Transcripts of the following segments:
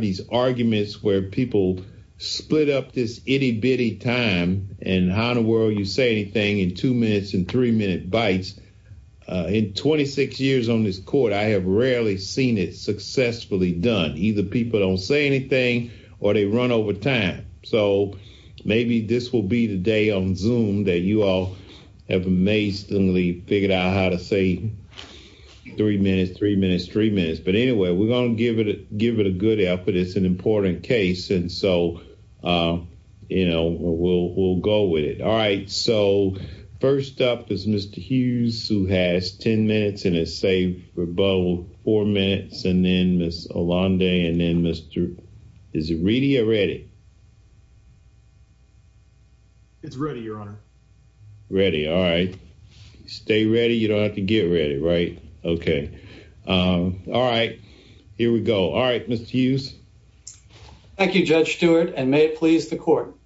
these arguments where people split up this itty bitty time and how in the world you say anything in two minutes and three minute bites. In 26 years on this court I have rarely seen it successfully done. Either people don't say anything or they run over time. So maybe this will be the day on Zoom that you all have amazingly figured out how to say three minutes, three minutes, three minutes. But anyway we're going to give it give it a good effort. It's an important case and so you know we'll we'll go with it. All right so first up is Mr. Hughes who has 10 minutes and has saved for about four minutes and then Ms. Allende and then Mr. is it ready or ready? It's ready your honor. Ready all right. Stay ready you don't have to get ready right. Okay um all right here we go. All right Mr. Hughes. Thank you Judge Stewart and may it please the court.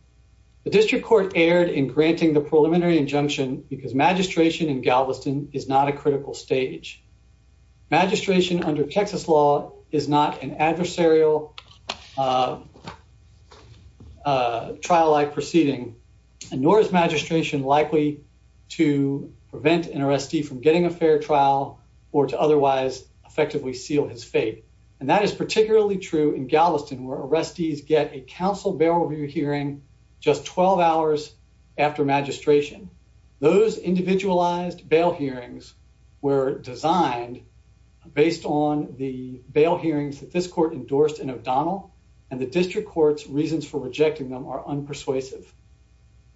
The district court erred in granting the preliminary injunction because magistration in Galveston is not a critical stage. Magistration under Texas law is not an adversarial trial-like proceeding and nor is magistration likely to prevent an arrestee from getting a effectively seal his fate and that is particularly true in Galveston where arrestees get a council bail review hearing just 12 hours after magistration. Those individualized bail hearings were designed based on the bail hearings that this court endorsed in O'Donnell and the district court's reasons for rejecting them are unpersuasive.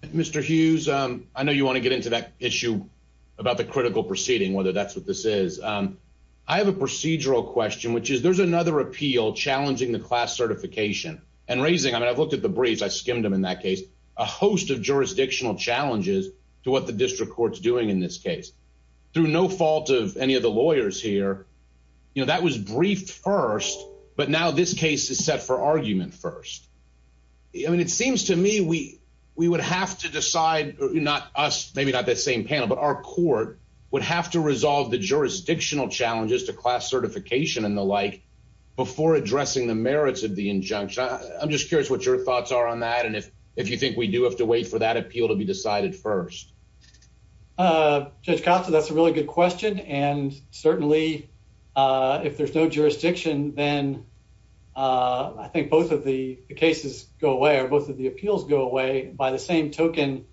Mr. Hughes I know you want to get into that issue about the critical proceeding whether that's what this is. I have a procedural question which is there's another appeal challenging the class certification and raising I mean I've looked at the briefs I skimmed them in that case a host of jurisdictional challenges to what the district court's doing in this case. Through no fault of any of the lawyers here you know that was briefed first but now this case is set for argument first. I mean it seems to me we we would have to decide not us maybe not that same panel but our court would have to resolve the jurisdictional challenges to class certification and the like before addressing the merits of the injunction. I'm just curious what your thoughts are on that and if if you think we do have to wait for that appeal to be decided first. Judge Costa that's a really good question and certainly if there's no jurisdiction then I think both of the cases go away or both of the appeals go away by the same token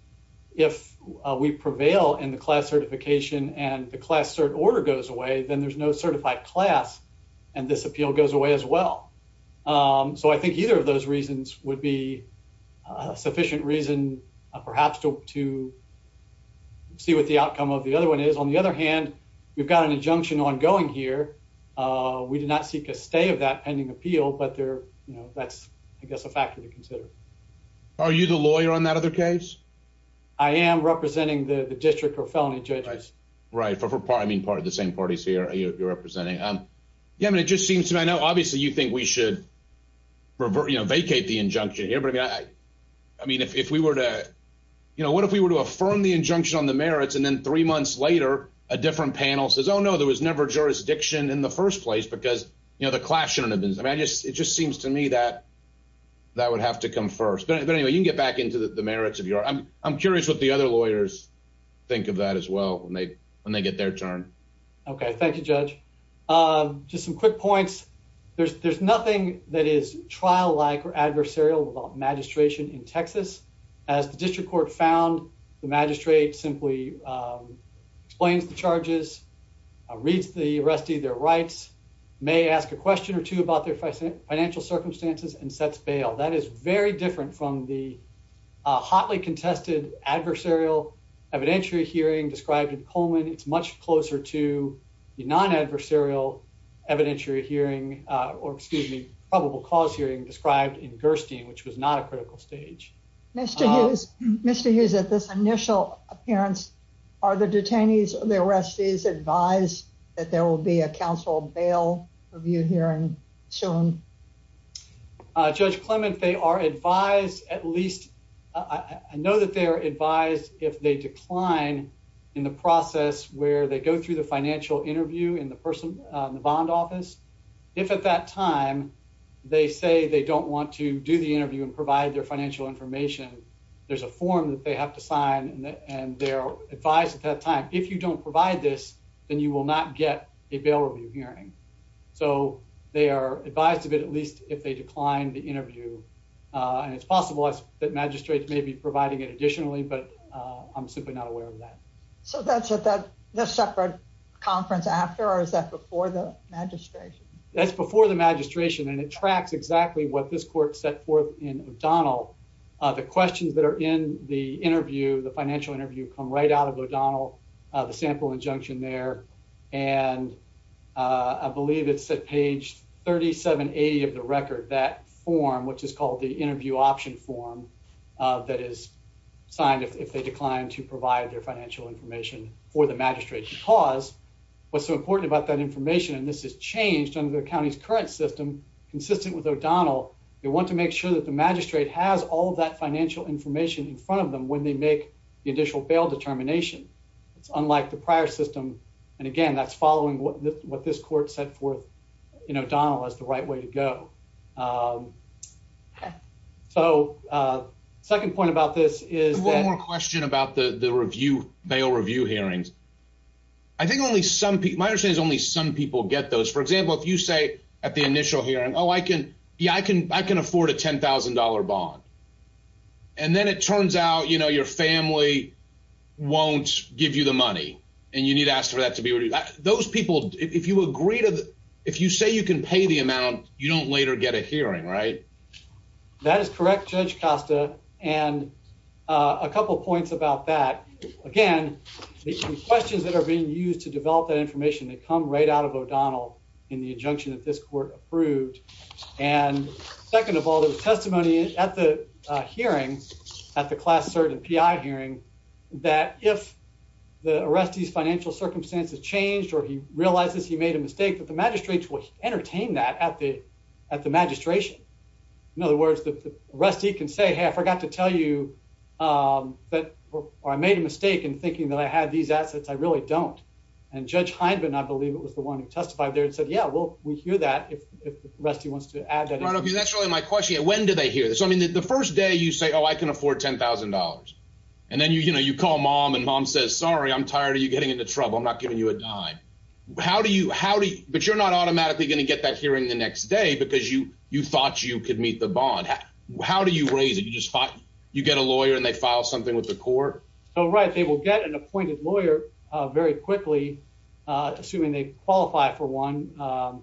if we prevail in the class certification and the class cert order goes away then there's no certified class and this appeal goes away as well. So I think either of those reasons would be a sufficient reason perhaps to to see what the outcome of the other one is. On the other hand we've got an injunction ongoing here uh we did not seek a stay of that pending appeal but they're you know that's I guess a factor to consider. Are you the lawyer on that other case? I am representing the the district or felony judges. Right for part I mean part of the same parties here you're representing um yeah I mean it just seems to me I know obviously you think we should you know vacate the injunction here but I mean I I mean if if we were to you know what if we were to affirm the injunction on the merits and then three months later a different panel says oh no there was never jurisdiction in the first place because you know the class shouldn't have been I mean I just it just seems to me that that would have to come first but anyway you can get back into the merits of your I'm I'm curious what the other lawyers think of that as well when they when they get their turn. Okay thank you judge. Um just some quick points there's there's nothing that is trial-like or adversarial about magistration in Texas as the district court found the magistrate simply explains the charges reads the arrestee their rights may ask a question or two about their financial circumstances and sets bail. That is very different from the hotly contested adversarial evidentiary hearing described in Coleman. It's much closer to the non-adversarial evidentiary hearing or excuse me probable cause hearing described in Gerstein which was not a appearance. Are the detainees or the arrestees advised that there will be a council bail review hearing soon? Judge Clement they are advised at least I know that they are advised if they decline in the process where they go through the financial interview in the person the bond office. If at that time they say they don't want to do the interview and provide their sign and they're advised at that time if you don't provide this then you will not get a bail review hearing. So they are advised of it at least if they decline the interview and it's possible that magistrates may be providing it additionally but I'm simply not aware of that. So that's at that the separate conference after or is that before the magistration? That's before the magistration and it tracks exactly what this court set forth in O'Donnell. The questions that are in the interview the financial interview come right out of O'Donnell the sample injunction there and I believe it's at page 3780 of the record that form which is called the interview option form that is signed if they decline to provide their financial information for the magistrate because what's so important about that information and this has changed under the county's current system consistent with O'Donnell they want to make sure that the magistrate has all that financial information in front of them when they make the initial bail determination. It's unlike the prior system and again that's following what this court set forth in O'Donnell as the right way to go. So second point about this is one more question about the the review bail review hearings. I think only some people my understanding is only some people get those for example if you say at the initial hearing oh I can yeah I can I can afford a ten thousand dollar bond and then it turns out you know your family won't give you the money and you need to ask for that to be those people if you agree to if you say you can pay the amount you don't later get a hearing right? That is correct Judge Costa and a couple points about that again the questions that are being used to develop that information they come right out of O'Donnell in the injunction that this court approved and second of all the testimony at the hearing at the class cert and PI hearing that if the arrestee's financial circumstances changed or he realizes he made a mistake that the magistrates will entertain that at the at the magistration. In other words the arrestee can say hey I forgot to tell you um that or I made a mistake in thinking that I had these assets I really don't and Judge Hindman I believe it was the one who testified there and said yeah well we hear that if the arrestee wants to add that. That's really my question when do they hear this I mean the first day you say oh I can afford ten thousand dollars and then you know you call mom and mom says sorry I'm tired of you getting into trouble I'm not giving you a dime how do you how do but you're not automatically going to get that hearing the next day because you you thought you could meet the bond how do you raise it you just thought you get a lawyer and they file something with the court. So right they will get an appointed lawyer very quickly assuming they qualify for one or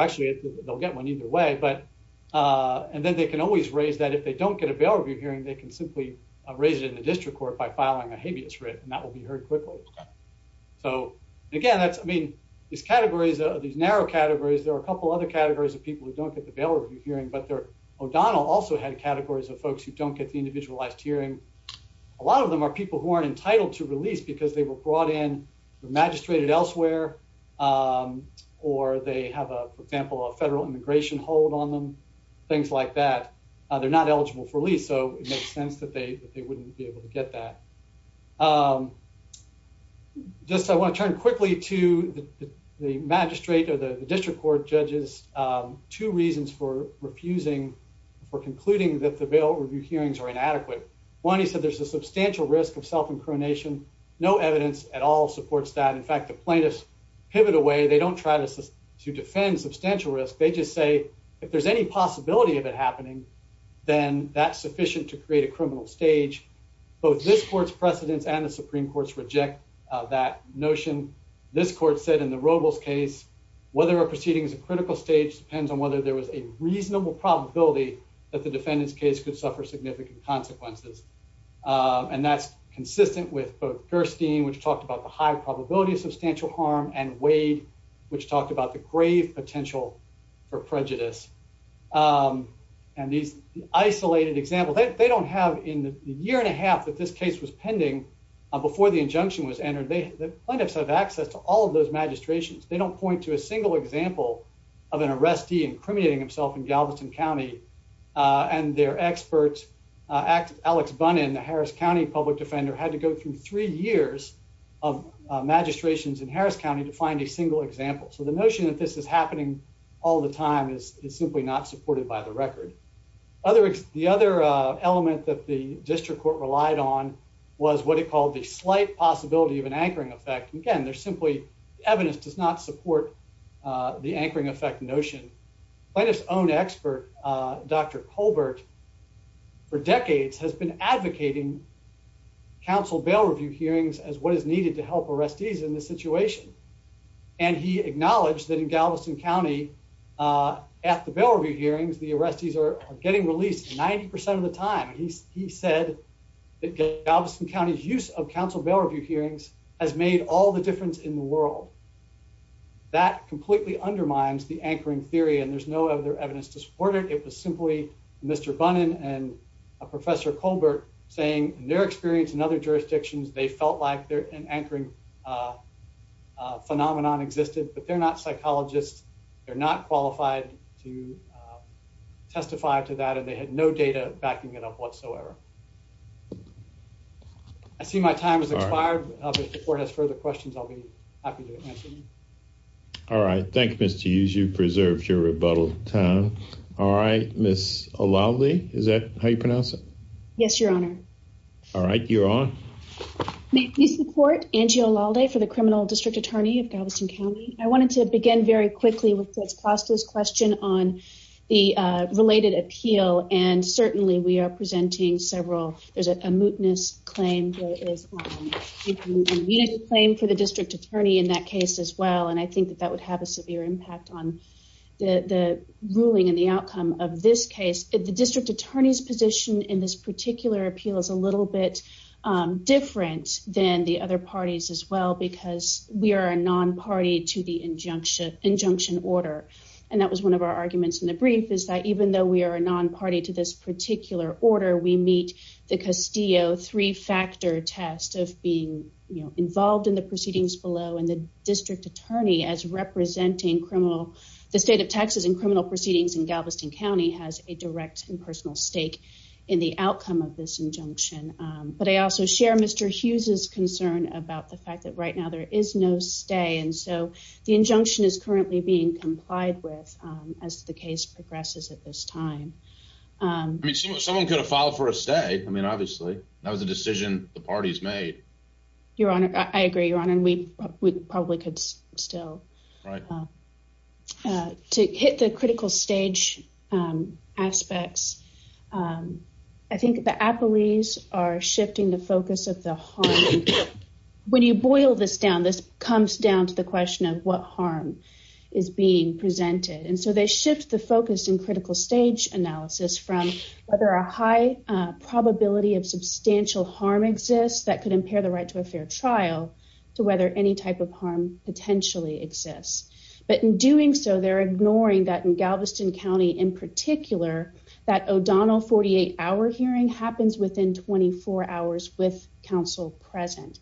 actually they'll get one either way but and then they can always raise that if they don't get a bail review hearing they can simply raise it in the district court by filing a habeas writ and that will be heard quickly. So again that's I mean these categories are these narrow categories there are a couple other categories of people who don't get the bail review hearing but they're O'Donnell also had categories of folks who don't get the individualized hearing a lot of them are people who aren't entitled to release because they were brought in the magistrated elsewhere or they have a for example a federal immigration hold on them things like that they're not eligible for lease so it makes sense that they they wouldn't be able to get that. Just I want to turn quickly to the magistrate or the district court judges two reasons for refusing for concluding that the bail review hearings are inadequate. One he said there's a substantial risk of self-incrimination no evidence at all supports that in fact the plaintiffs pivot away they don't try to to defend substantial risk they just say if there's any possibility of it happening then that's sufficient to create a criminal stage both this court's precedents and the supreme court's reject that notion this court said in the Robles case whether proceeding is a critical stage depends on whether there was a reasonable probability that the defendant's case could suffer significant consequences and that's consistent with both Gerstein which talked about the high probability of substantial harm and Wade which talked about the grave potential for prejudice and these isolated examples they don't have in the year and a half that this case was pending before the injunction was entered they the plaintiffs have access to all of those magistrations they don't point to a single example of an arrestee incriminating himself in Galveston County uh and their experts uh alex bun in the Harris County public defender had to go through three years of magistrations in Harris County to find a single example so the notion that this is happening all the time is simply not supported by the record other the other uh element that the district court relied on was what it called the slight possibility of an anchoring effect again there's simply evidence does not support uh the anchoring effect notion plaintiff's own expert uh dr colbert for decades has been advocating council bail review hearings as what is needed to help arrestees in this situation and he acknowledged that in Galveston County uh at the bail review hearings the arrestees are has made all the difference in the world that completely undermines the anchoring theory and there's no other evidence to support it it was simply mr bun and a professor colbert saying their experience in other jurisdictions they felt like they're in anchoring uh phenomenon existed but they're not psychologists they're not qualified to testify to that and they had no data backing it up whatsoever i see my time has expired if the court has further questions i'll be happy to answer you all right thank you mr use you preserved your rebuttal time all right miss a lovely is that how you pronounce it yes your honor all right you're on may please support angie alalde for the criminal district attorney of galveston county i wanted to begin very quickly question on the uh related appeal and certainly we are presenting several there's a mootness claim for the district attorney in that case as well and i think that that would have a severe impact on the the ruling and the outcome of this case the district attorney's position in this particular appeal is a little bit um different than the other parties as well because we are a non-party to the injunction order and that was one of our arguments in the brief is that even though we are a non-party to this particular order we meet the castillo three-factor test of being you know involved in the proceedings below and the district attorney as representing criminal the state of texas and criminal proceedings in galveston county has a direct and personal stake in the outcome of this injunction but i also share mr hughes's concern about the fact that right now there is no stay and so the injunction is currently being complied with as the case progresses at this time i mean someone could have filed for a stay i mean obviously that was a decision the parties made your honor i agree your honor we we probably could still right uh to hit the critical stage aspects um i think the appellees are shifting the focus of the harm when you boil this down this comes down to the question of what harm is being presented and so they shift the focus in critical stage analysis from whether a high probability of substantial harm exists that could impair the right to a fair trial to whether any type of harm potentially exists but in doing so they're ignoring that in galveston county in particular that o'donnell 48 hour hearing happens within 24 hours with counsel present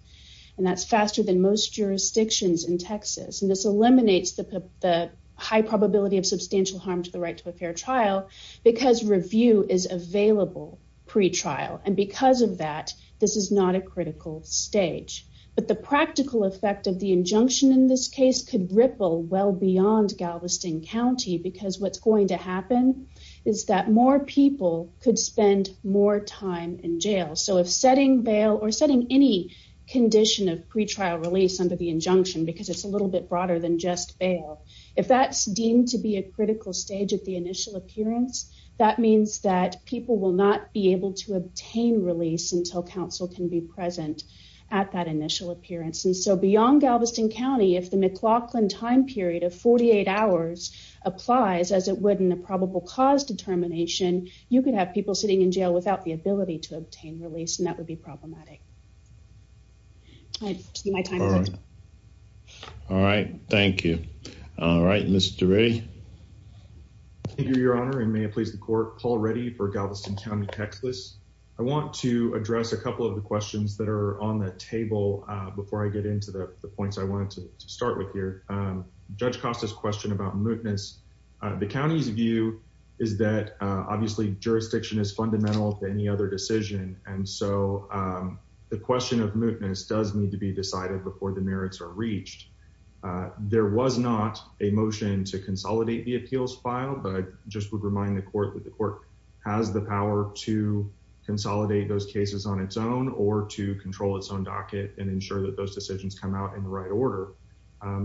and that's faster than most jurisdictions in texas and this eliminates the the high probability of substantial harm to the right to a fair trial because review is available pre-trial and because of that this is not a critical stage but the practical effect of the injunction in this case could ripple well beyond galveston county because what's going to happen is that more people could spend more time in jail so if setting bail or setting any condition of pre-trial release under the injunction because it's a little bit broader than just bail if that's deemed to be a critical stage at the initial appearance that means that people will not be able to obtain release until counsel can be present at that initial appearance and so beyond galveston county if the mclaughlin time period of 48 hours applies as it would in a probable cause determination you could have people sitting in jail without the ability to obtain release and that would be problematic all right thank you all right mr ray thank you your honor and may it please the court call ready for galveston county texas i want to address a couple of the questions that are on the table before i get into the points i wanted to start with here judge costas question about mootness the county's view is that obviously jurisdiction is fundamental to any other decision and so the question of mootness does need to be decided before the merits are reached there was not a motion to consolidate the appeals file but i just would remind the court that the control its own docket and ensure that those decisions come out in the right order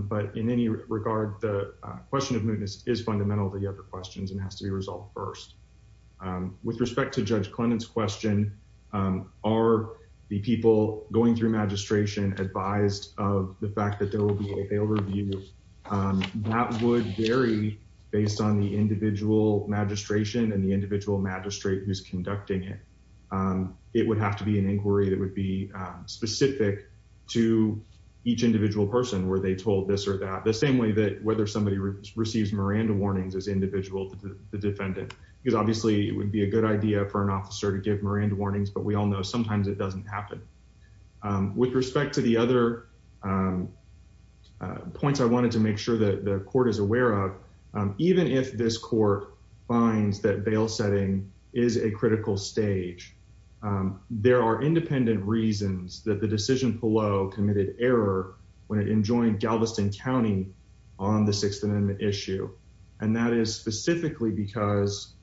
but in any regard the question of mootness is fundamental to the other questions and has to be resolved first with respect to judge clinton's question are the people going through magistration advised of the fact that there will be a bail review that would vary based on the individual magistration and the individual magistrate who's conducting it it would have to be an inquiry that would be specific to each individual person where they told this or that the same way that whether somebody receives miranda warnings as individual to the defendant because obviously it would be a good idea for an officer to give miranda warnings but we all know sometimes it doesn't happen with respect to the other points i wanted to make sure that the court is aware of even if this court finds that bail setting is a critical stage there are independent reasons that the decision below committed error when it enjoined galveston county on the sixth amendment issue and that is specifically because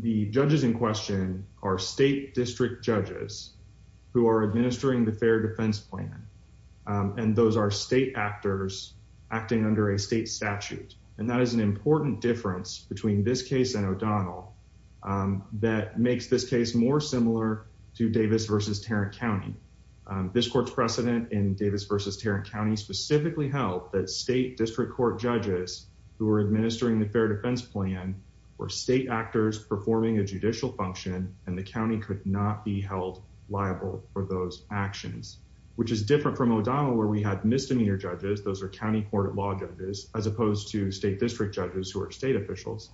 the judges in question are state district judges who are administering the fair defense plan and those are state actors acting under a state statute and that is an important difference between this case and o'donnell that makes this case more similar to davis versus tarrant county this court's precedent in davis versus tarrant county specifically held that state district court judges who were administering the fair defense plan were state actors performing a judicial function and the county could not be held liable for those actions which is different from o'donnell where we had misdemeanor judges those are county court of law as opposed to state district judges who are state officials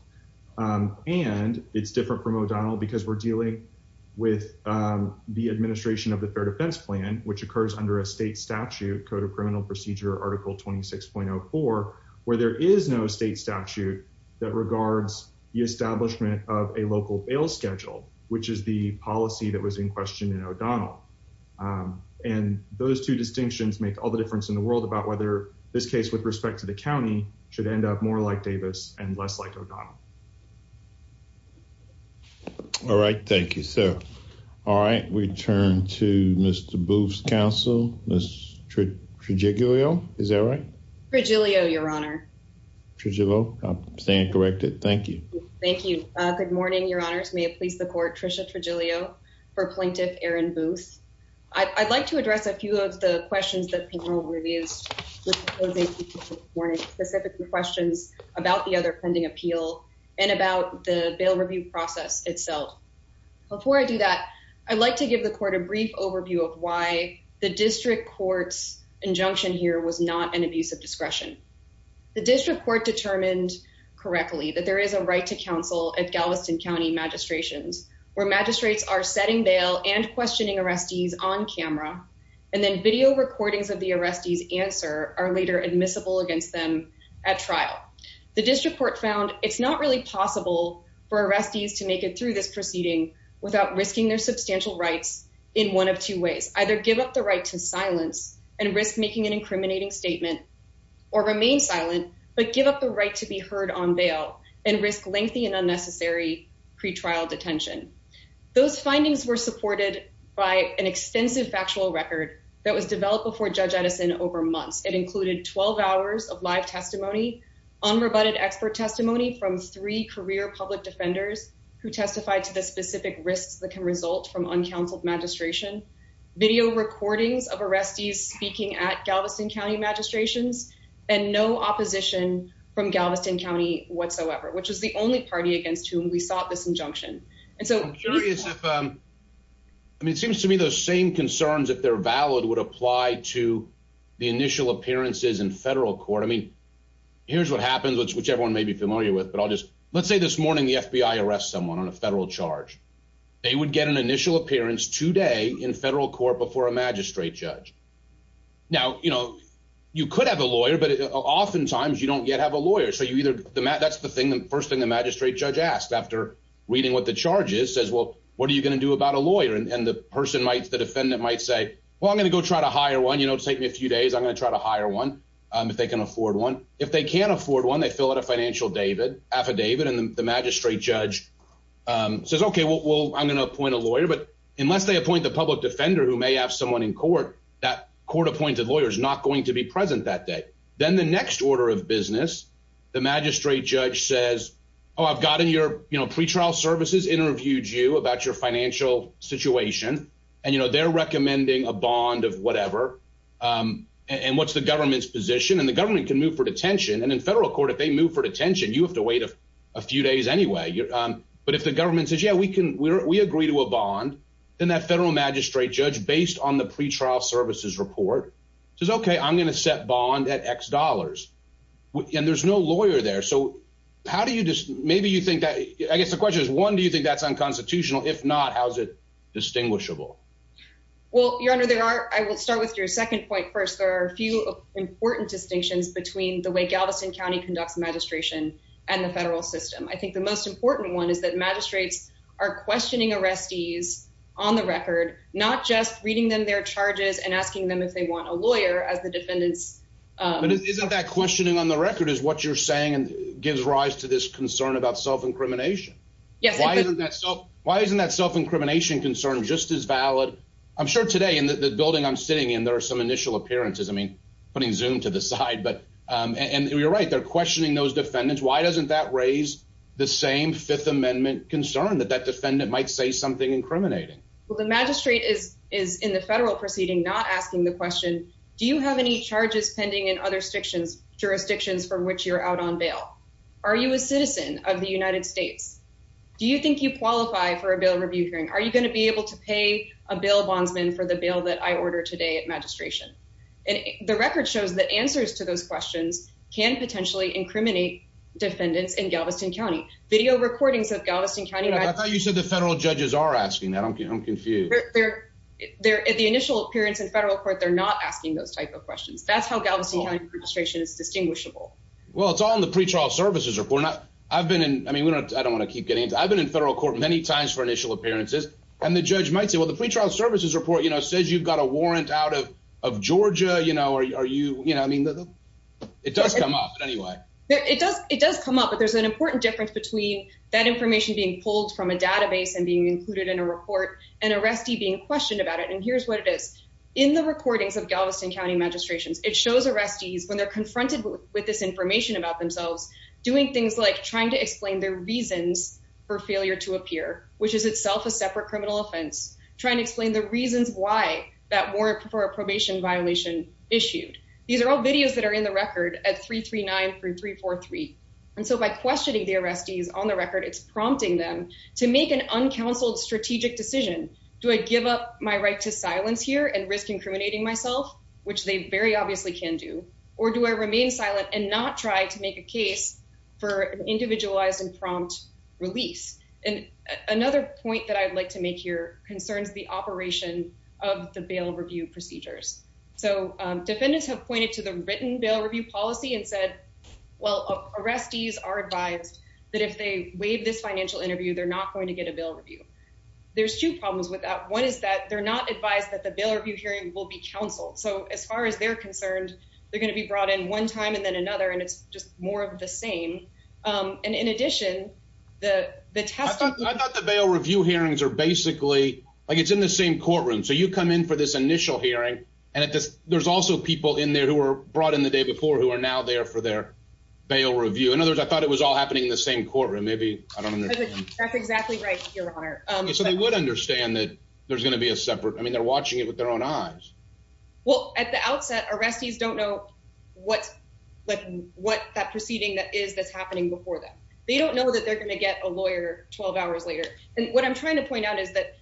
and it's different from o'donnell because we're dealing with the administration of the fair defense plan which occurs under a state statute code of criminal procedure article 26.04 where there is no state statute that regards the establishment of a local bail schedule which is the policy that was in question in o'donnell and those two distinctions make all the difference in the world about whether this case with respect to the county should end up more like davis and less like o'donnell. All right thank you sir. All right we turn to Mr. Booth's counsel Miss Trigilio is that right? Trigilio your honor. Trigilio I'm saying it corrected thank you. Thank you good morning your honors may it please the court Tricia Trigilio for plaintiff Aaron Booth. I'd like address a few of the questions that payroll reviews specific questions about the other pending appeal and about the bail review process itself. Before I do that I'd like to give the court a brief overview of why the district court's injunction here was not an abuse of discretion. The district court determined correctly that there is a right to counsel at Galveston county magistrations where magistrates are setting bail and questioning arrestees on camera and then video recordings of the arrestees answer are later admissible against them at trial. The district court found it's not really possible for arrestees to make it through this proceeding without risking their substantial rights in one of two ways either give up the right to silence and risk making an incriminating statement or remain silent but give up the right to be heard on bail and risk lengthy and unnecessary pre-trial detention. Those findings were supported by an extensive factual record that was developed before Judge Edison over months. It included 12 hours of live testimony unrebutted expert testimony from three career public defenders who testified to the specific risks that can result from uncounseled magistration video recordings of arrestees speaking at Galveston whatsoever which is the only party against whom we sought this injunction and so I'm curious if um I mean it seems to me those same concerns if they're valid would apply to the initial appearances in federal court I mean here's what happens which everyone may be familiar with but I'll just let's say this morning the FBI arrests someone on a federal charge they would get an initial appearance today in federal court before a magistrate judge now you know you could have a lawyer but oftentimes you don't yet have a lawyer so you either that's the thing the first thing the magistrate judge asked after reading what the charge is says well what are you going to do about a lawyer and the person might the defendant might say well I'm going to go try to hire one you know take me a few days I'm going to try to hire one um if they can afford one if they can't afford one they fill out a financial david affidavit and the magistrate judge um says okay well I'm going to appoint a lawyer but unless they appoint the public defender who may have someone in court that court appointed lawyer is not going to be present that day then the next order of business the magistrate judge says oh I've gotten your you know pretrial services interviewed you about your financial situation and you know they're recommending a bond of whatever um and what's the government's position and the government can move for detention and in federal court if they move for detention you have to wait a few days anyway um but if the government says yeah we can we agree to a bond then that federal magistrate judge based on the pretrial services report says okay I'm going to set bond at x dollars and there's no lawyer there so how do you just maybe you think that I guess the question is one do you think that's unconstitutional if not how is it distinguishable well your honor there are I will start with your second point first there are a few important distinctions between the way Galveston county conducts magistration and the federal system I think the most important one is that magistrates are questioning arrestees on the record not just reading them their charges and asking them if they want a lawyer as the defendants isn't that questioning on the record is what you're saying and gives rise to this concern about self-incrimination yes why isn't that so why isn't that self-incrimination concern just as valid I'm sure today in the building I'm sitting in there are some initial appearances I mean putting zoom to the side but um and you're right they're questioning those defendants why doesn't that raise the same fifth amendment concern that that defendant might say something incriminating well the magistrate is is in the federal proceeding not asking the question do you have any charges pending in other stictions jurisdictions from which you're out on bail are you a citizen of the United States do you think you qualify for a bill review hearing are you going to be able to pay a bail bondsman for the bill that I order today at magistration and the record shows that answers to those questions can potentially incriminate defendants in Galveston County video recordings of Galveston County I thought you said the federal judges are asking that I'm confused they're they're at the initial appearance in federal court they're not asking those type of questions that's how Galveston County registration is distinguishable well it's all in the pretrial services report not I've been in I mean we don't I don't want to keep getting into I've been in federal court many times for initial appearances and the judge might say well the pretrial services report you know says you've got a warrant out of of Georgia you know are you you know I mean it does come up anyway it does it does come up but there's an important difference between that information being pulled from a database and being included in a report and arrestee being questioned about it and here's what it is in the recordings of Galveston County magistrations it shows arrestees when they're confronted with this information about themselves doing things like trying to explain their reasons for failure to appear which is itself a separate criminal offense trying to explain the reasons why that warrant for a probation violation issued these are all videos that are in the record at 339-343 and so by questioning the arrestees on the record it's prompting them to make an uncounseled strategic decision do I give up my right to silence here and risk incriminating myself which they very obviously can do or do I remain silent and not try to make a case for an individualized and prompt release and another point that I'd like to make here concerns the operation of the bail review procedures so defendants have pointed to the written bail review policy and said well arrestees are advised that if they waive this financial interview they're not going to get a bail review there's two problems with that one is that they're not advised that the bail review hearing will be counseled so as far as they're concerned they're going to be brought in one time and then another and it's just more of um and in addition the the test I thought the bail review hearings are basically like it's in the same courtroom so you come in for this initial hearing and it just there's also people in there who were brought in the day before who are now there for their bail review in other words I thought it was all happening in the same courtroom maybe I don't understand that's exactly right your honor um so they would understand that there's going to be a separate I mean they're watching it with their own eyes well at the outset arrestees don't know what like what that is that's happening before them they don't know that they're going to get a lawyer 12 hours later and what I'm trying to point out is that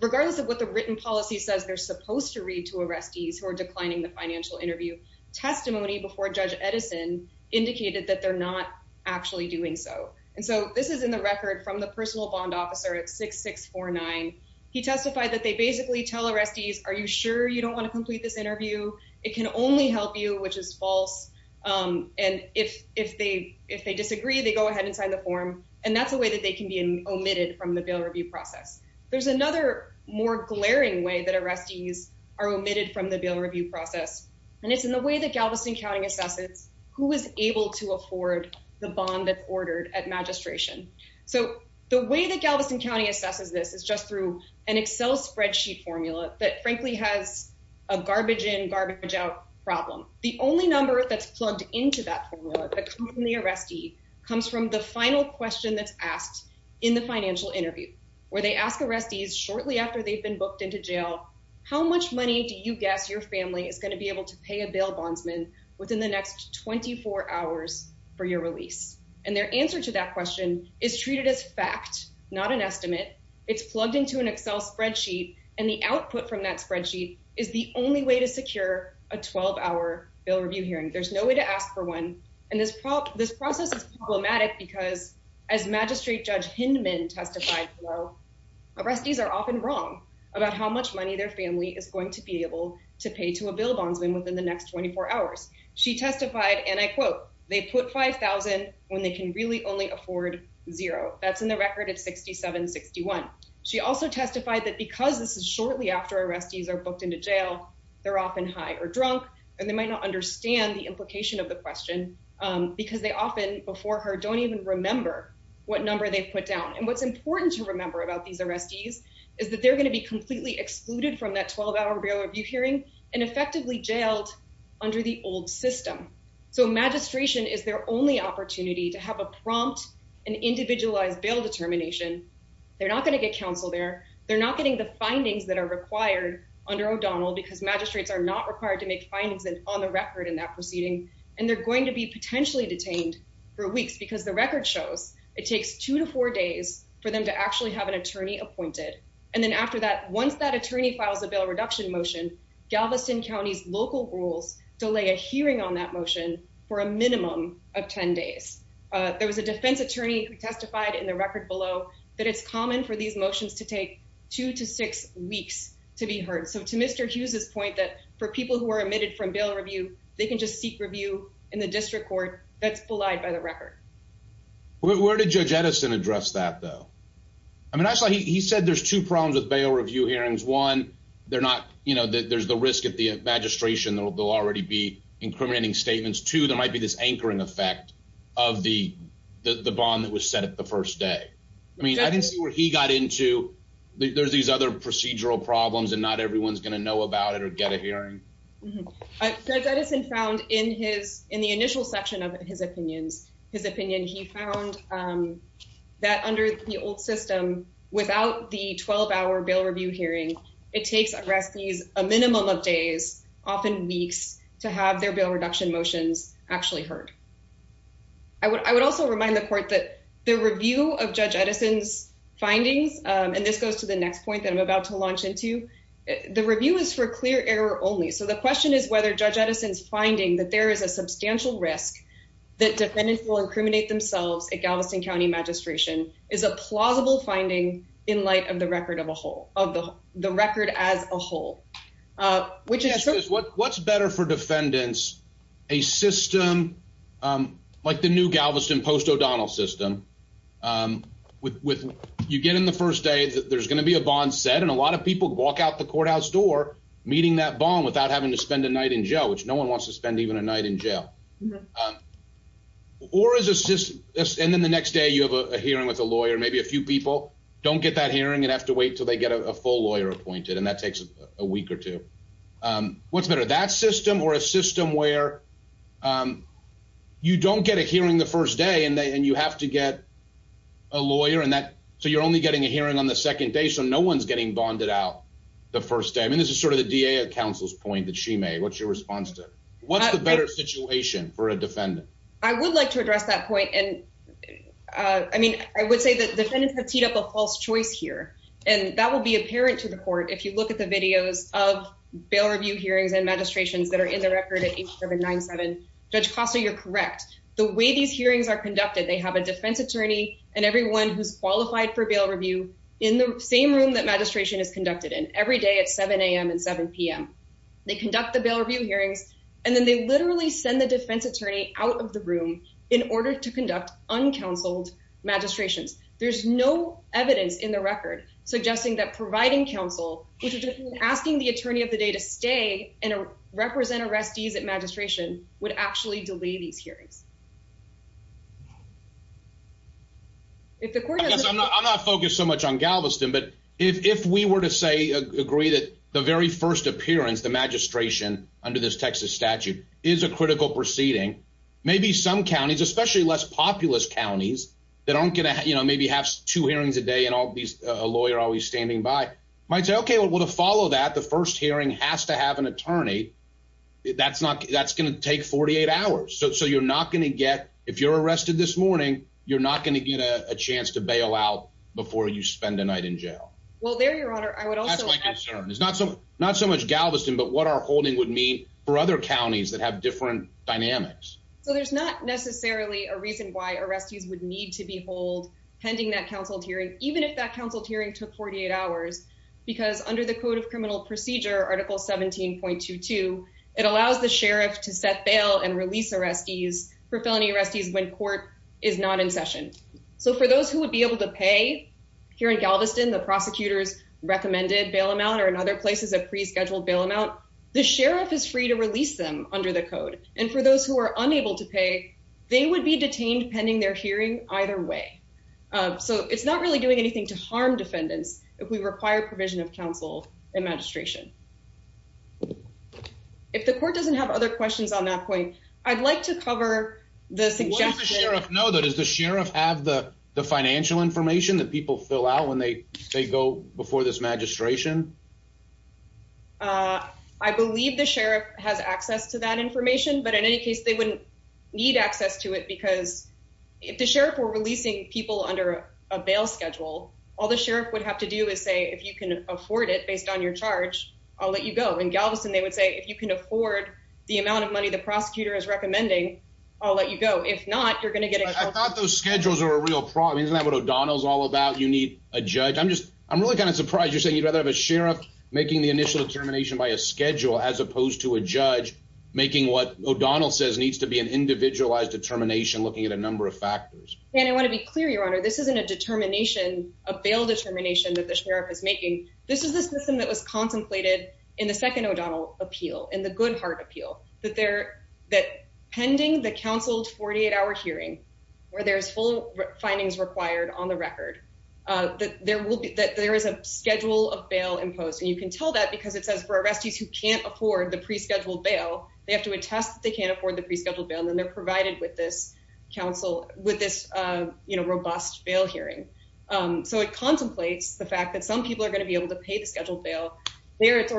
regardless of what the written policy says they're supposed to read to arrestees who are declining the financial interview testimony before Judge Edison indicated that they're not actually doing so and so this is in the record from the personal bond officer at six six four nine he testified that they basically tell arrestees are you sure you don't want to complete this interview it can only help you which is false um and if if they if they disagree they go ahead and sign the form and that's a way that they can be omitted from the bail review process there's another more glaring way that arrestees are omitted from the bail review process and it's in the way that Galveston County assesses who is able to afford the bond that's ordered at magistration so the way that Galveston County assesses this is just through an excel spreadsheet formula that frankly has a garbage in garbage out problem the only number that's plugged into that formula that comes from the arrestee comes from the final question that's asked in the financial interview where they ask arrestees shortly after they've been booked into jail how much money do you guess your family is going to be able to pay a bail bondsman within the next 24 hours for your release and their answer to that question is treated as fact not an estimate it's plugged into an excel spreadsheet and the output from that spreadsheet is the only way to secure a 12-hour bail review hearing there's no way to ask for one and this prop this process is problematic because as magistrate judge hindman testified well arrestees are often wrong about how much money their family is going to be able to pay to a bail bondsman within the next 24 hours she testified and i quote they put 5 000 when they can really only afford zero that's in the record at 67 61 she also testified that because this is booked into jail they're often high or drunk and they might not understand the implication of the question because they often before her don't even remember what number they've put down and what's important to remember about these arrestees is that they're going to be completely excluded from that 12-hour bail review hearing and effectively jailed under the old system so magistration is their only opportunity to have a prompt and individualized bail determination they're not going to get counsel there they're not getting the findings that are required under o'donnell because magistrates are not required to make findings on the record in that proceeding and they're going to be potentially detained for weeks because the record shows it takes two to four days for them to actually have an attorney appointed and then after that once that attorney files a bail reduction motion galveston county's local rules delay a hearing on that motion for a minimum of 10 days uh there was a defense attorney who testified in the record below that it's common for these motions to take two to six weeks to be heard so to mr hughes's point that for people who are admitted from bail review they can just seek review in the district court that's belied by the record where did judge edison address that though i mean i saw he said there's two problems with bail review hearings one they're not you know there's the risk of the magistration they'll already be incriminating statements two there might be this anchoring effect of the the bond was set up the first day i mean i didn't see where he got into there's these other procedural problems and not everyone's going to know about it or get a hearing i said that has been found in his in the initial section of his opinions his opinion he found um that under the old system without the 12-hour bail review hearing it takes arrestees a minimum of days often weeks to have their bail reduction motions actually heard i would i would also remind the court that the review of judge edison's findings and this goes to the next point that i'm about to launch into the review is for clear error only so the question is whether judge edison's finding that there is a substantial risk that defendants will incriminate themselves at galveston county magistration is a plausible finding in light of the record of a whole of the the record as a whole uh which is what's better for defendants a system um like the new galveston post o'donnell system um with with you get in the first day that there's going to be a bond set and a lot of people walk out the courthouse door meeting that bond without having to spend a night in jail which no one wants to spend even a night in jail or is this just and then the next day you have a hearing with a lawyer maybe a few people don't get that hearing and have to wait till they get a full lawyer appointed and that takes a week or two um what's better that system or a system where um you don't get a hearing the first day and then you have to get a lawyer and that so you're only getting a hearing on the second day so no one's getting bonded out the first day i mean this is sort of the da council's point that she made what's your response to what's the better situation for a defendant i would like to address that point and uh i mean i would say that defendants have teed up a false choice here and that will be apparent to the court if you look at the videos of bail review hearings and magistrations that are in the record at 8 7 9 7 judge costa you're correct the way these hearings are conducted they have a defense attorney and everyone who's qualified for bail review in the same room that magistration is conducted in every day at 7 a.m and 7 p.m they conduct the bail review hearings and then they literally send the defense attorney out of the room in order to suggesting that providing counsel which is asking the attorney of the day to stay and represent arrestees at magistration would actually delay these hearings if the court i'm not i'm not focused so much on galveston but if if we were to say agree that the very first appearance the magistration under this texas statute is a critical proceeding maybe some counties especially less populous counties that aren't gonna you know maybe have two hearings a day and all these a lawyer always standing by might say okay well to follow that the first hearing has to have an attorney that's not that's gonna take 48 hours so so you're not gonna get if you're arrested this morning you're not gonna get a chance to bail out before you spend a night in jail well there your honor i would also that's my concern it's not so not so much galveston but what our holding would mean for other counties that have different dynamics so there's not necessarily a reason why arrestees would need to behold pending that counseled hearing even if that counseled hearing took 48 hours because under the code of criminal procedure article 17.22 it allows the sheriff to set bail and release arrestees for felony arrestees when court is not in session so for those who would be able to pay here in galveston the prosecutors recommended bail amount or in other places a pre-scheduled bail amount the sheriff is free to release them under the code and for those who are unable to pay they would be detained pending their hearing either way so it's not really doing anything to harm defendants if we require provision of counsel and magistration if the court doesn't have other questions on that point i'd like to cover the suggestion no that is the sheriff have the the financial information that people fill out when they go before this magistration uh i believe the sheriff has access to that information but in any case they wouldn't need access to it because if the sheriff were releasing people under a bail schedule all the sheriff would have to do is say if you can afford it based on your charge i'll let you go in galveston they would say if you can afford the amount of money the prosecutor is recommending i'll let you go if not you're going to get it i thought those schedules are a real problem isn't that what o'donnell's all about you need a judge i'm just i'm really kind of surprised you're saying you'd rather have a sheriff making the initial determination by a schedule as opposed to a judge making what o'donnell says needs to be an individualized determination looking at a number of factors and i want to be clear your honor this isn't a determination a bail determination that the sheriff is making this is the system that was contemplated in the second o'donnell appeal in the good heart appeal that they're that pending the counseled 48-hour hearing where there's full findings required on the record uh that there will be that there is a schedule of bail imposed and you can tell that because it says for arrestees who can't afford the pre-scheduled bail they have to attest that they can't afford the pre-scheduled bail then they're provided with this counsel with this uh you know robust bail hearing um so it contemplates the fact that some people are going to be able to pay the scheduled bail there it's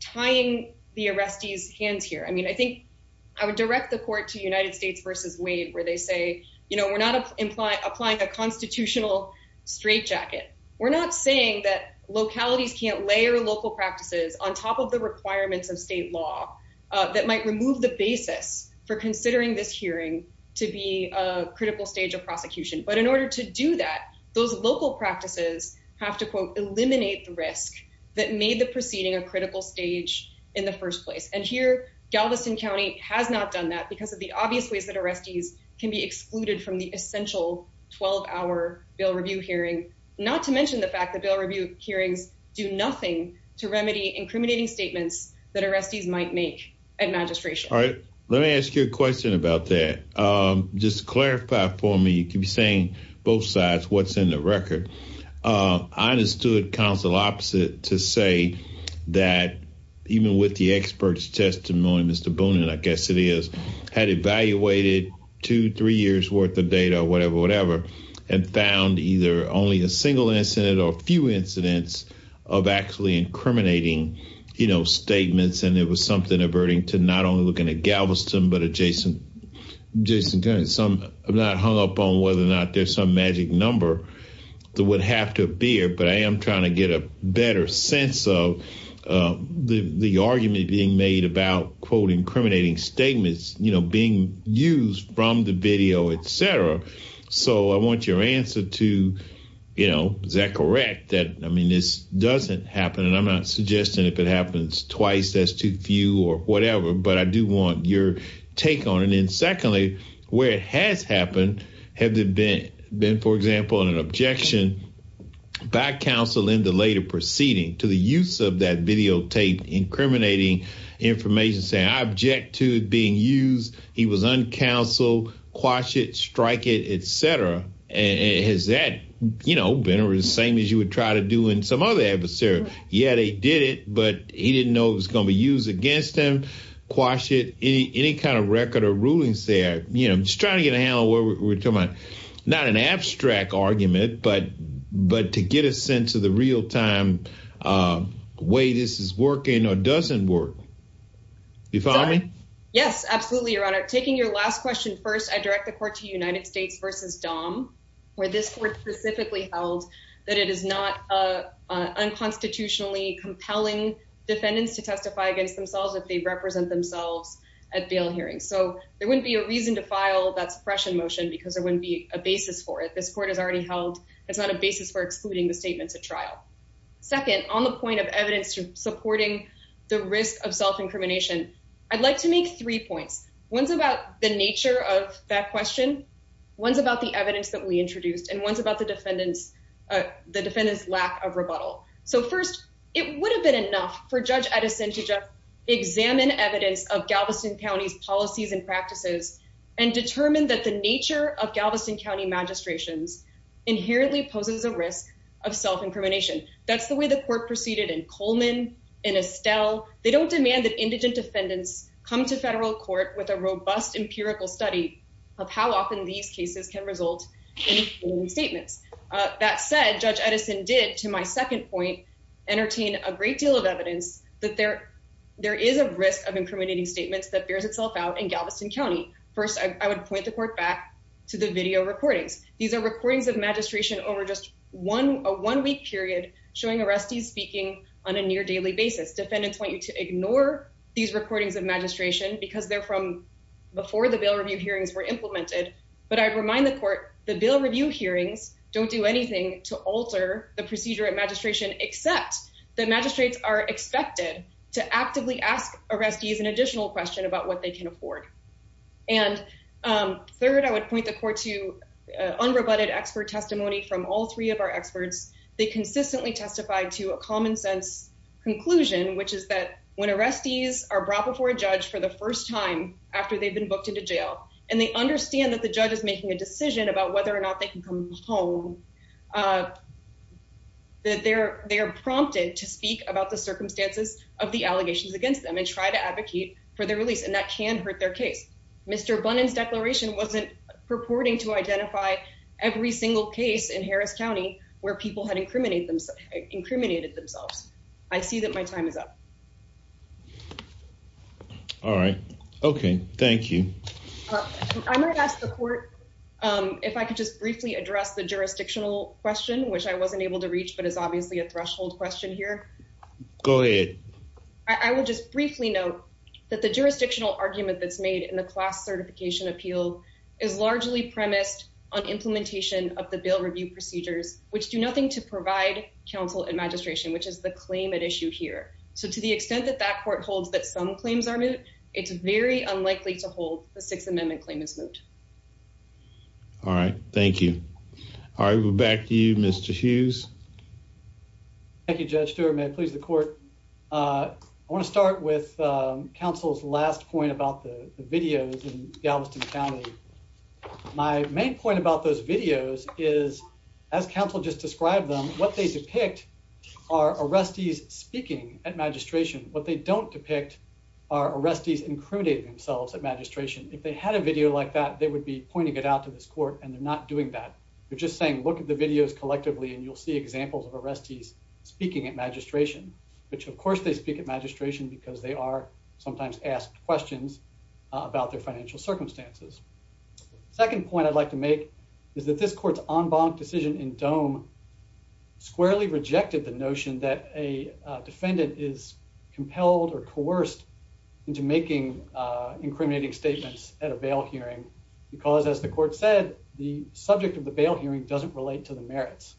tying the arrestees hands here i mean i think i would direct the court to united states versus wade where they say you know we're not imply applying a constitutional straitjacket we're not saying that localities can't layer local practices on top of the requirements of state law that might remove the basis for considering this hearing to be a critical stage of prosecution but in order to do that those local practices have to quote eliminate the risk that made the proceeding a critical stage in the first place and here galveston county has not done that because of the obvious ways that arrestees can be excluded from the essential 12-hour bail review hearing not to mention the fact that bail review hearings do nothing to remedy incriminating statements that arrestees might make at magistration all right let me ask you a question about that um just clarify for me you can be saying both sides what's in the record uh i understood counsel to say that even with the expert's testimony mr boone and i guess it is had evaluated two three years worth of data or whatever whatever and found either only a single incident or a few incidents of actually incriminating you know statements and it was something averting to not only looking at galveston but adjacent jason county some i'm not hung up on whether or not there's some magic number that would have to appear but i am trying to get a better sense of uh the the argument being made about quote incriminating statements you know being used from the video etc so i want your answer to you know is that correct that i mean this doesn't happen and i'm not suggesting if it happens twice that's too few or whatever but i do want your take on and then secondly where it has happened have there been been for example an objection by counsel in the later proceeding to the use of that videotape incriminating information saying i object to being used he was uncounseled quash it strike it etc and has that you know been the same as you would try to do in some other adversary yeah they did it but he didn't know it was going to be used against him quash it any any kind of record or rulings there you know just trying to get a handle where we're talking about not an abstract argument but but to get a sense of the real-time way this is working or doesn't work you follow me yes absolutely your honor taking your last question first i direct the court to united states versus dom where this court specifically held that it is not a unconstitutionally compelling defendants to testify against themselves if they represent themselves at bail hearings so there wouldn't be a reason to file that suppression motion because there wouldn't be a basis for it this court has already held it's not a basis for excluding the statements at trial second on the point of evidence supporting the risk of self incrimination i'd like to make three points one's about the nature of that question one's about the defendant's lack of rebuttal so first it would have been enough for judge edison to just examine evidence of galveston county's policies and practices and determine that the nature of galveston county magistrations inherently poses a risk of self-incrimination that's the way the court proceeded in coleman in estelle they don't demand that indigent defendants come to federal court with a robust empirical study of how often these cases can result in statements uh that said judge edison did to my second point entertain a great deal of evidence that there there is a risk of incriminating statements that bears itself out in galveston county first i would point the court back to the video recordings these are recordings of magistration over just one a one week period showing arrestees speaking on a near daily basis defendants want you to ignore these recordings of magistration because they're from before the bail review hearings were implemented but i'd remind the court the bail review hearings don't do anything to alter the procedure at magistration except the magistrates are expected to actively ask arrestees an additional question about what they can afford and um third i would point the court to unrebutted expert testimony from all three of our experts they consistently testify to a common sense conclusion which is that when arrestees are brought before a judge for the first time after they've been booked into jail and they understand that the judge is making a decision about whether or not they can come home uh that they're they are prompted to speak about the circumstances of the allegations against them and try to advocate for their release and that can hurt their case mr bunnings declaration wasn't purporting to identify every single case in harris county where people had incriminate themselves incriminated themselves i see that my time is up all right okay thank you i might ask the court um if i could just briefly address the jurisdictional question which i wasn't able to reach but it's obviously a threshold question here go ahead i would just briefly note that the jurisdictional argument that's made in the class certification appeal is largely premised on implementation of the bail review procedures which do nothing to provide counsel and magistration which is the claim at issue here so to the extent that that court holds that some claims are moot it's very unlikely to hold the sixth amendment claim is moot all right thank you all right we're back to you mr hughes thank you judge stewart may it please the court uh i want to start with um counsel's last point about the videos in galveston county my main point about those videos is as counsel just described them what they depict are arrestees speaking at magistration what they don't depict are arrestees incriminating themselves at magistration if they had a video like that they would be pointing it out to this court and they're not doing that they're just saying look at the videos collectively and you'll see examples of arrestees speaking at magistration which of course they speak at magistration because they are sometimes asked questions about their financial circumstances second point i'd like to that a defendant is compelled or coerced into making uh incriminating statements at a bail hearing because as the court said the subject of the bail hearing doesn't relate to the merits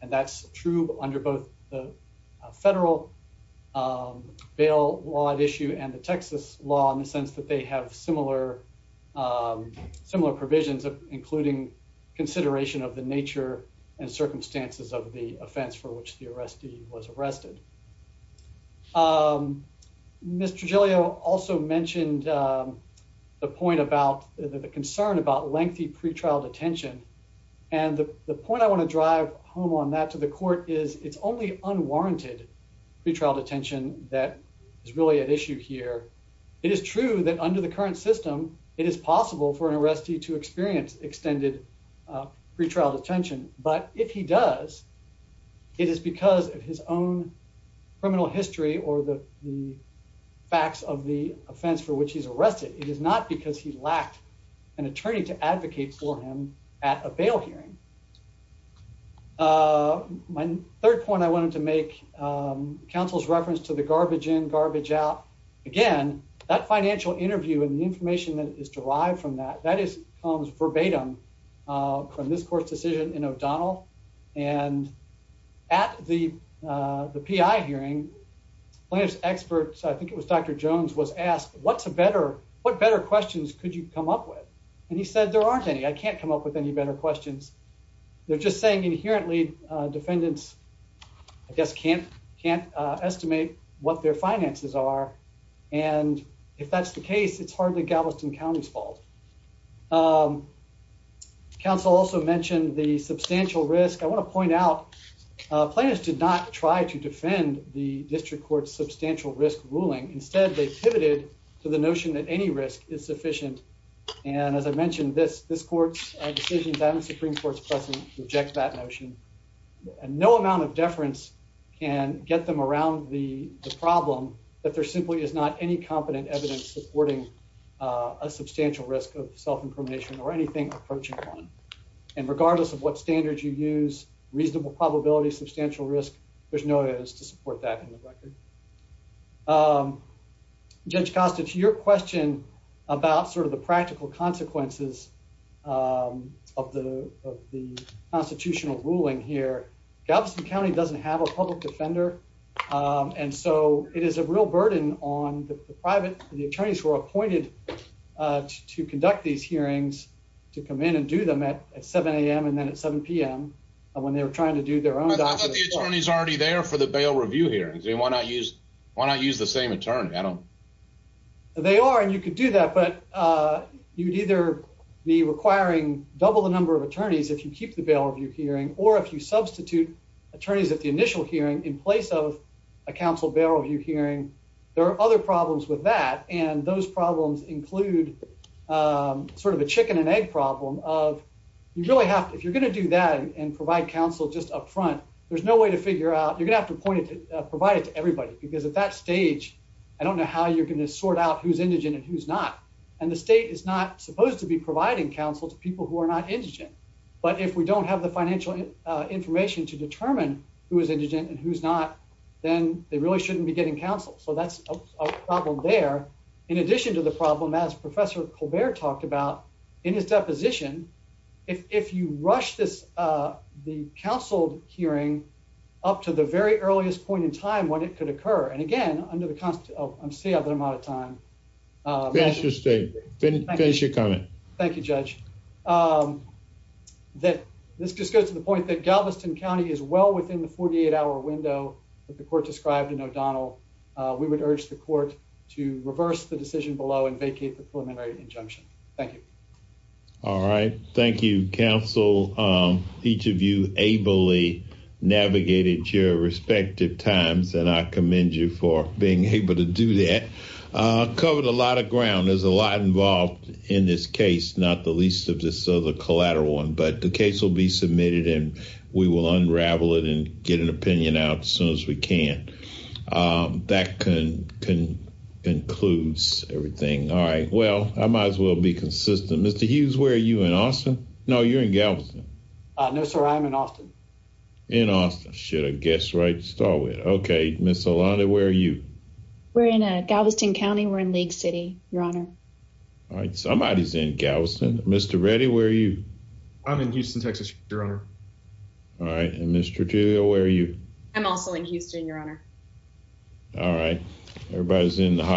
and that's true under both the federal um bail law at issue and the texas law in the sense that they have similar um similar provisions of including consideration of the nature and circumstances of the offense for which the arrestee was arrested um mr giulio also mentioned um the point about the concern about lengthy pretrial detention and the the point i want to drive home on that to the court is it's only unwarranted pretrial detention that is really at issue here it is true that under the current system it is possible for an arrestee to experience extended pretrial detention but if he does it is because of his own criminal history or the the facts of the offense for which he's arrested it is not because he lacked an attorney to advocate for him at a bail hearing uh my third point i wanted to make um counsel's reference to the garbage in out again that financial interview and the information that is derived from that that is comes verbatim uh from this court's decision in o'donnell and at the uh the p.i hearing players experts i think it was dr jones was asked what's a better what better questions could you come up with and he said there aren't any i can't come up with any better questions they're just saying inherently uh defendants i guess can't can't uh estimate what their finances are and if that's the case it's hardly galveston county's fault um counsel also mentioned the substantial risk i want to point out uh planners did not try to defend the district court's substantial risk ruling instead they pivoted to the notion that any risk is sufficient and as i mentioned this this court's decisions and the supreme court's present reject that notion and no amount of deference can get them around the problem that there simply is not any competent evidence supporting a substantial risk of self-incrimination or anything approaching one and regardless of what standards you use reasonable probability substantial risk there's no use to support that in the record um judge cost it's your question about sort of the practical consequences um of the of the constitutional ruling here galveston county doesn't have a public defender um and so it is a real burden on the private the attorneys who are appointed uh to conduct these hearings to come in and do them at 7 a.m and then at 7 p.m when they were trying to do their own attorneys already there for the bail review hearings they want to use why not use the same attorney i don't they are and you could do that but uh you'd either be requiring double the number of attorneys if you keep the bail review hearing or if you substitute attorneys at the initial hearing in place of a council bail review hearing there are other problems with that and those problems include um sort of a chicken and egg problem of you really have if you're going to do that and provide counsel just up front there's no way to figure out you're going to have to point it to provide it to everybody because at that stage i don't know how you're going to sort out who's indigent and who's not and the state is not supposed to be providing counsel to people who are not indigent but if we don't have the financial information to determine who is indigent and who's not then they really shouldn't be getting counsel so that's a problem there in addition to the problem as professor colbert talked about in his deposition if if you rush this uh the counsel hearing up to the very earliest point in time when it could occur and again under the constant oh i'm seeing i'm out of time uh interesting finish your comment thank you judge um that this just goes to the point that galveston county is well within the 48 hour window that the court described in o'Donnell uh we would urge the court to reverse the decision below and vacate the preliminary injunction thank you all right thank you counsel um each of you ably navigated your respective times and i commend you for being able to do that uh covered a lot of ground there's a lot involved in this case not the least of this other collateral one but the case will be submitted and we will unravel it and get an opinion out as soon as we can um that can can concludes everything all right well i might as well be consistent mr hughes where are you in austin no you're in galveston uh no sir i'm in austin in austin should have guessed right to start with okay miss alana where are you we're in a galveston county we're in league city your honor all right somebody's in galveston mr ready where are you i'm in houston texas your honor all right and mr jill where are you i'm also in houston your honor all right everybody's in the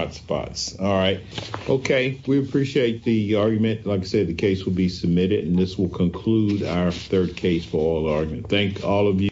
and this will conclude our third case for all argument thank all of you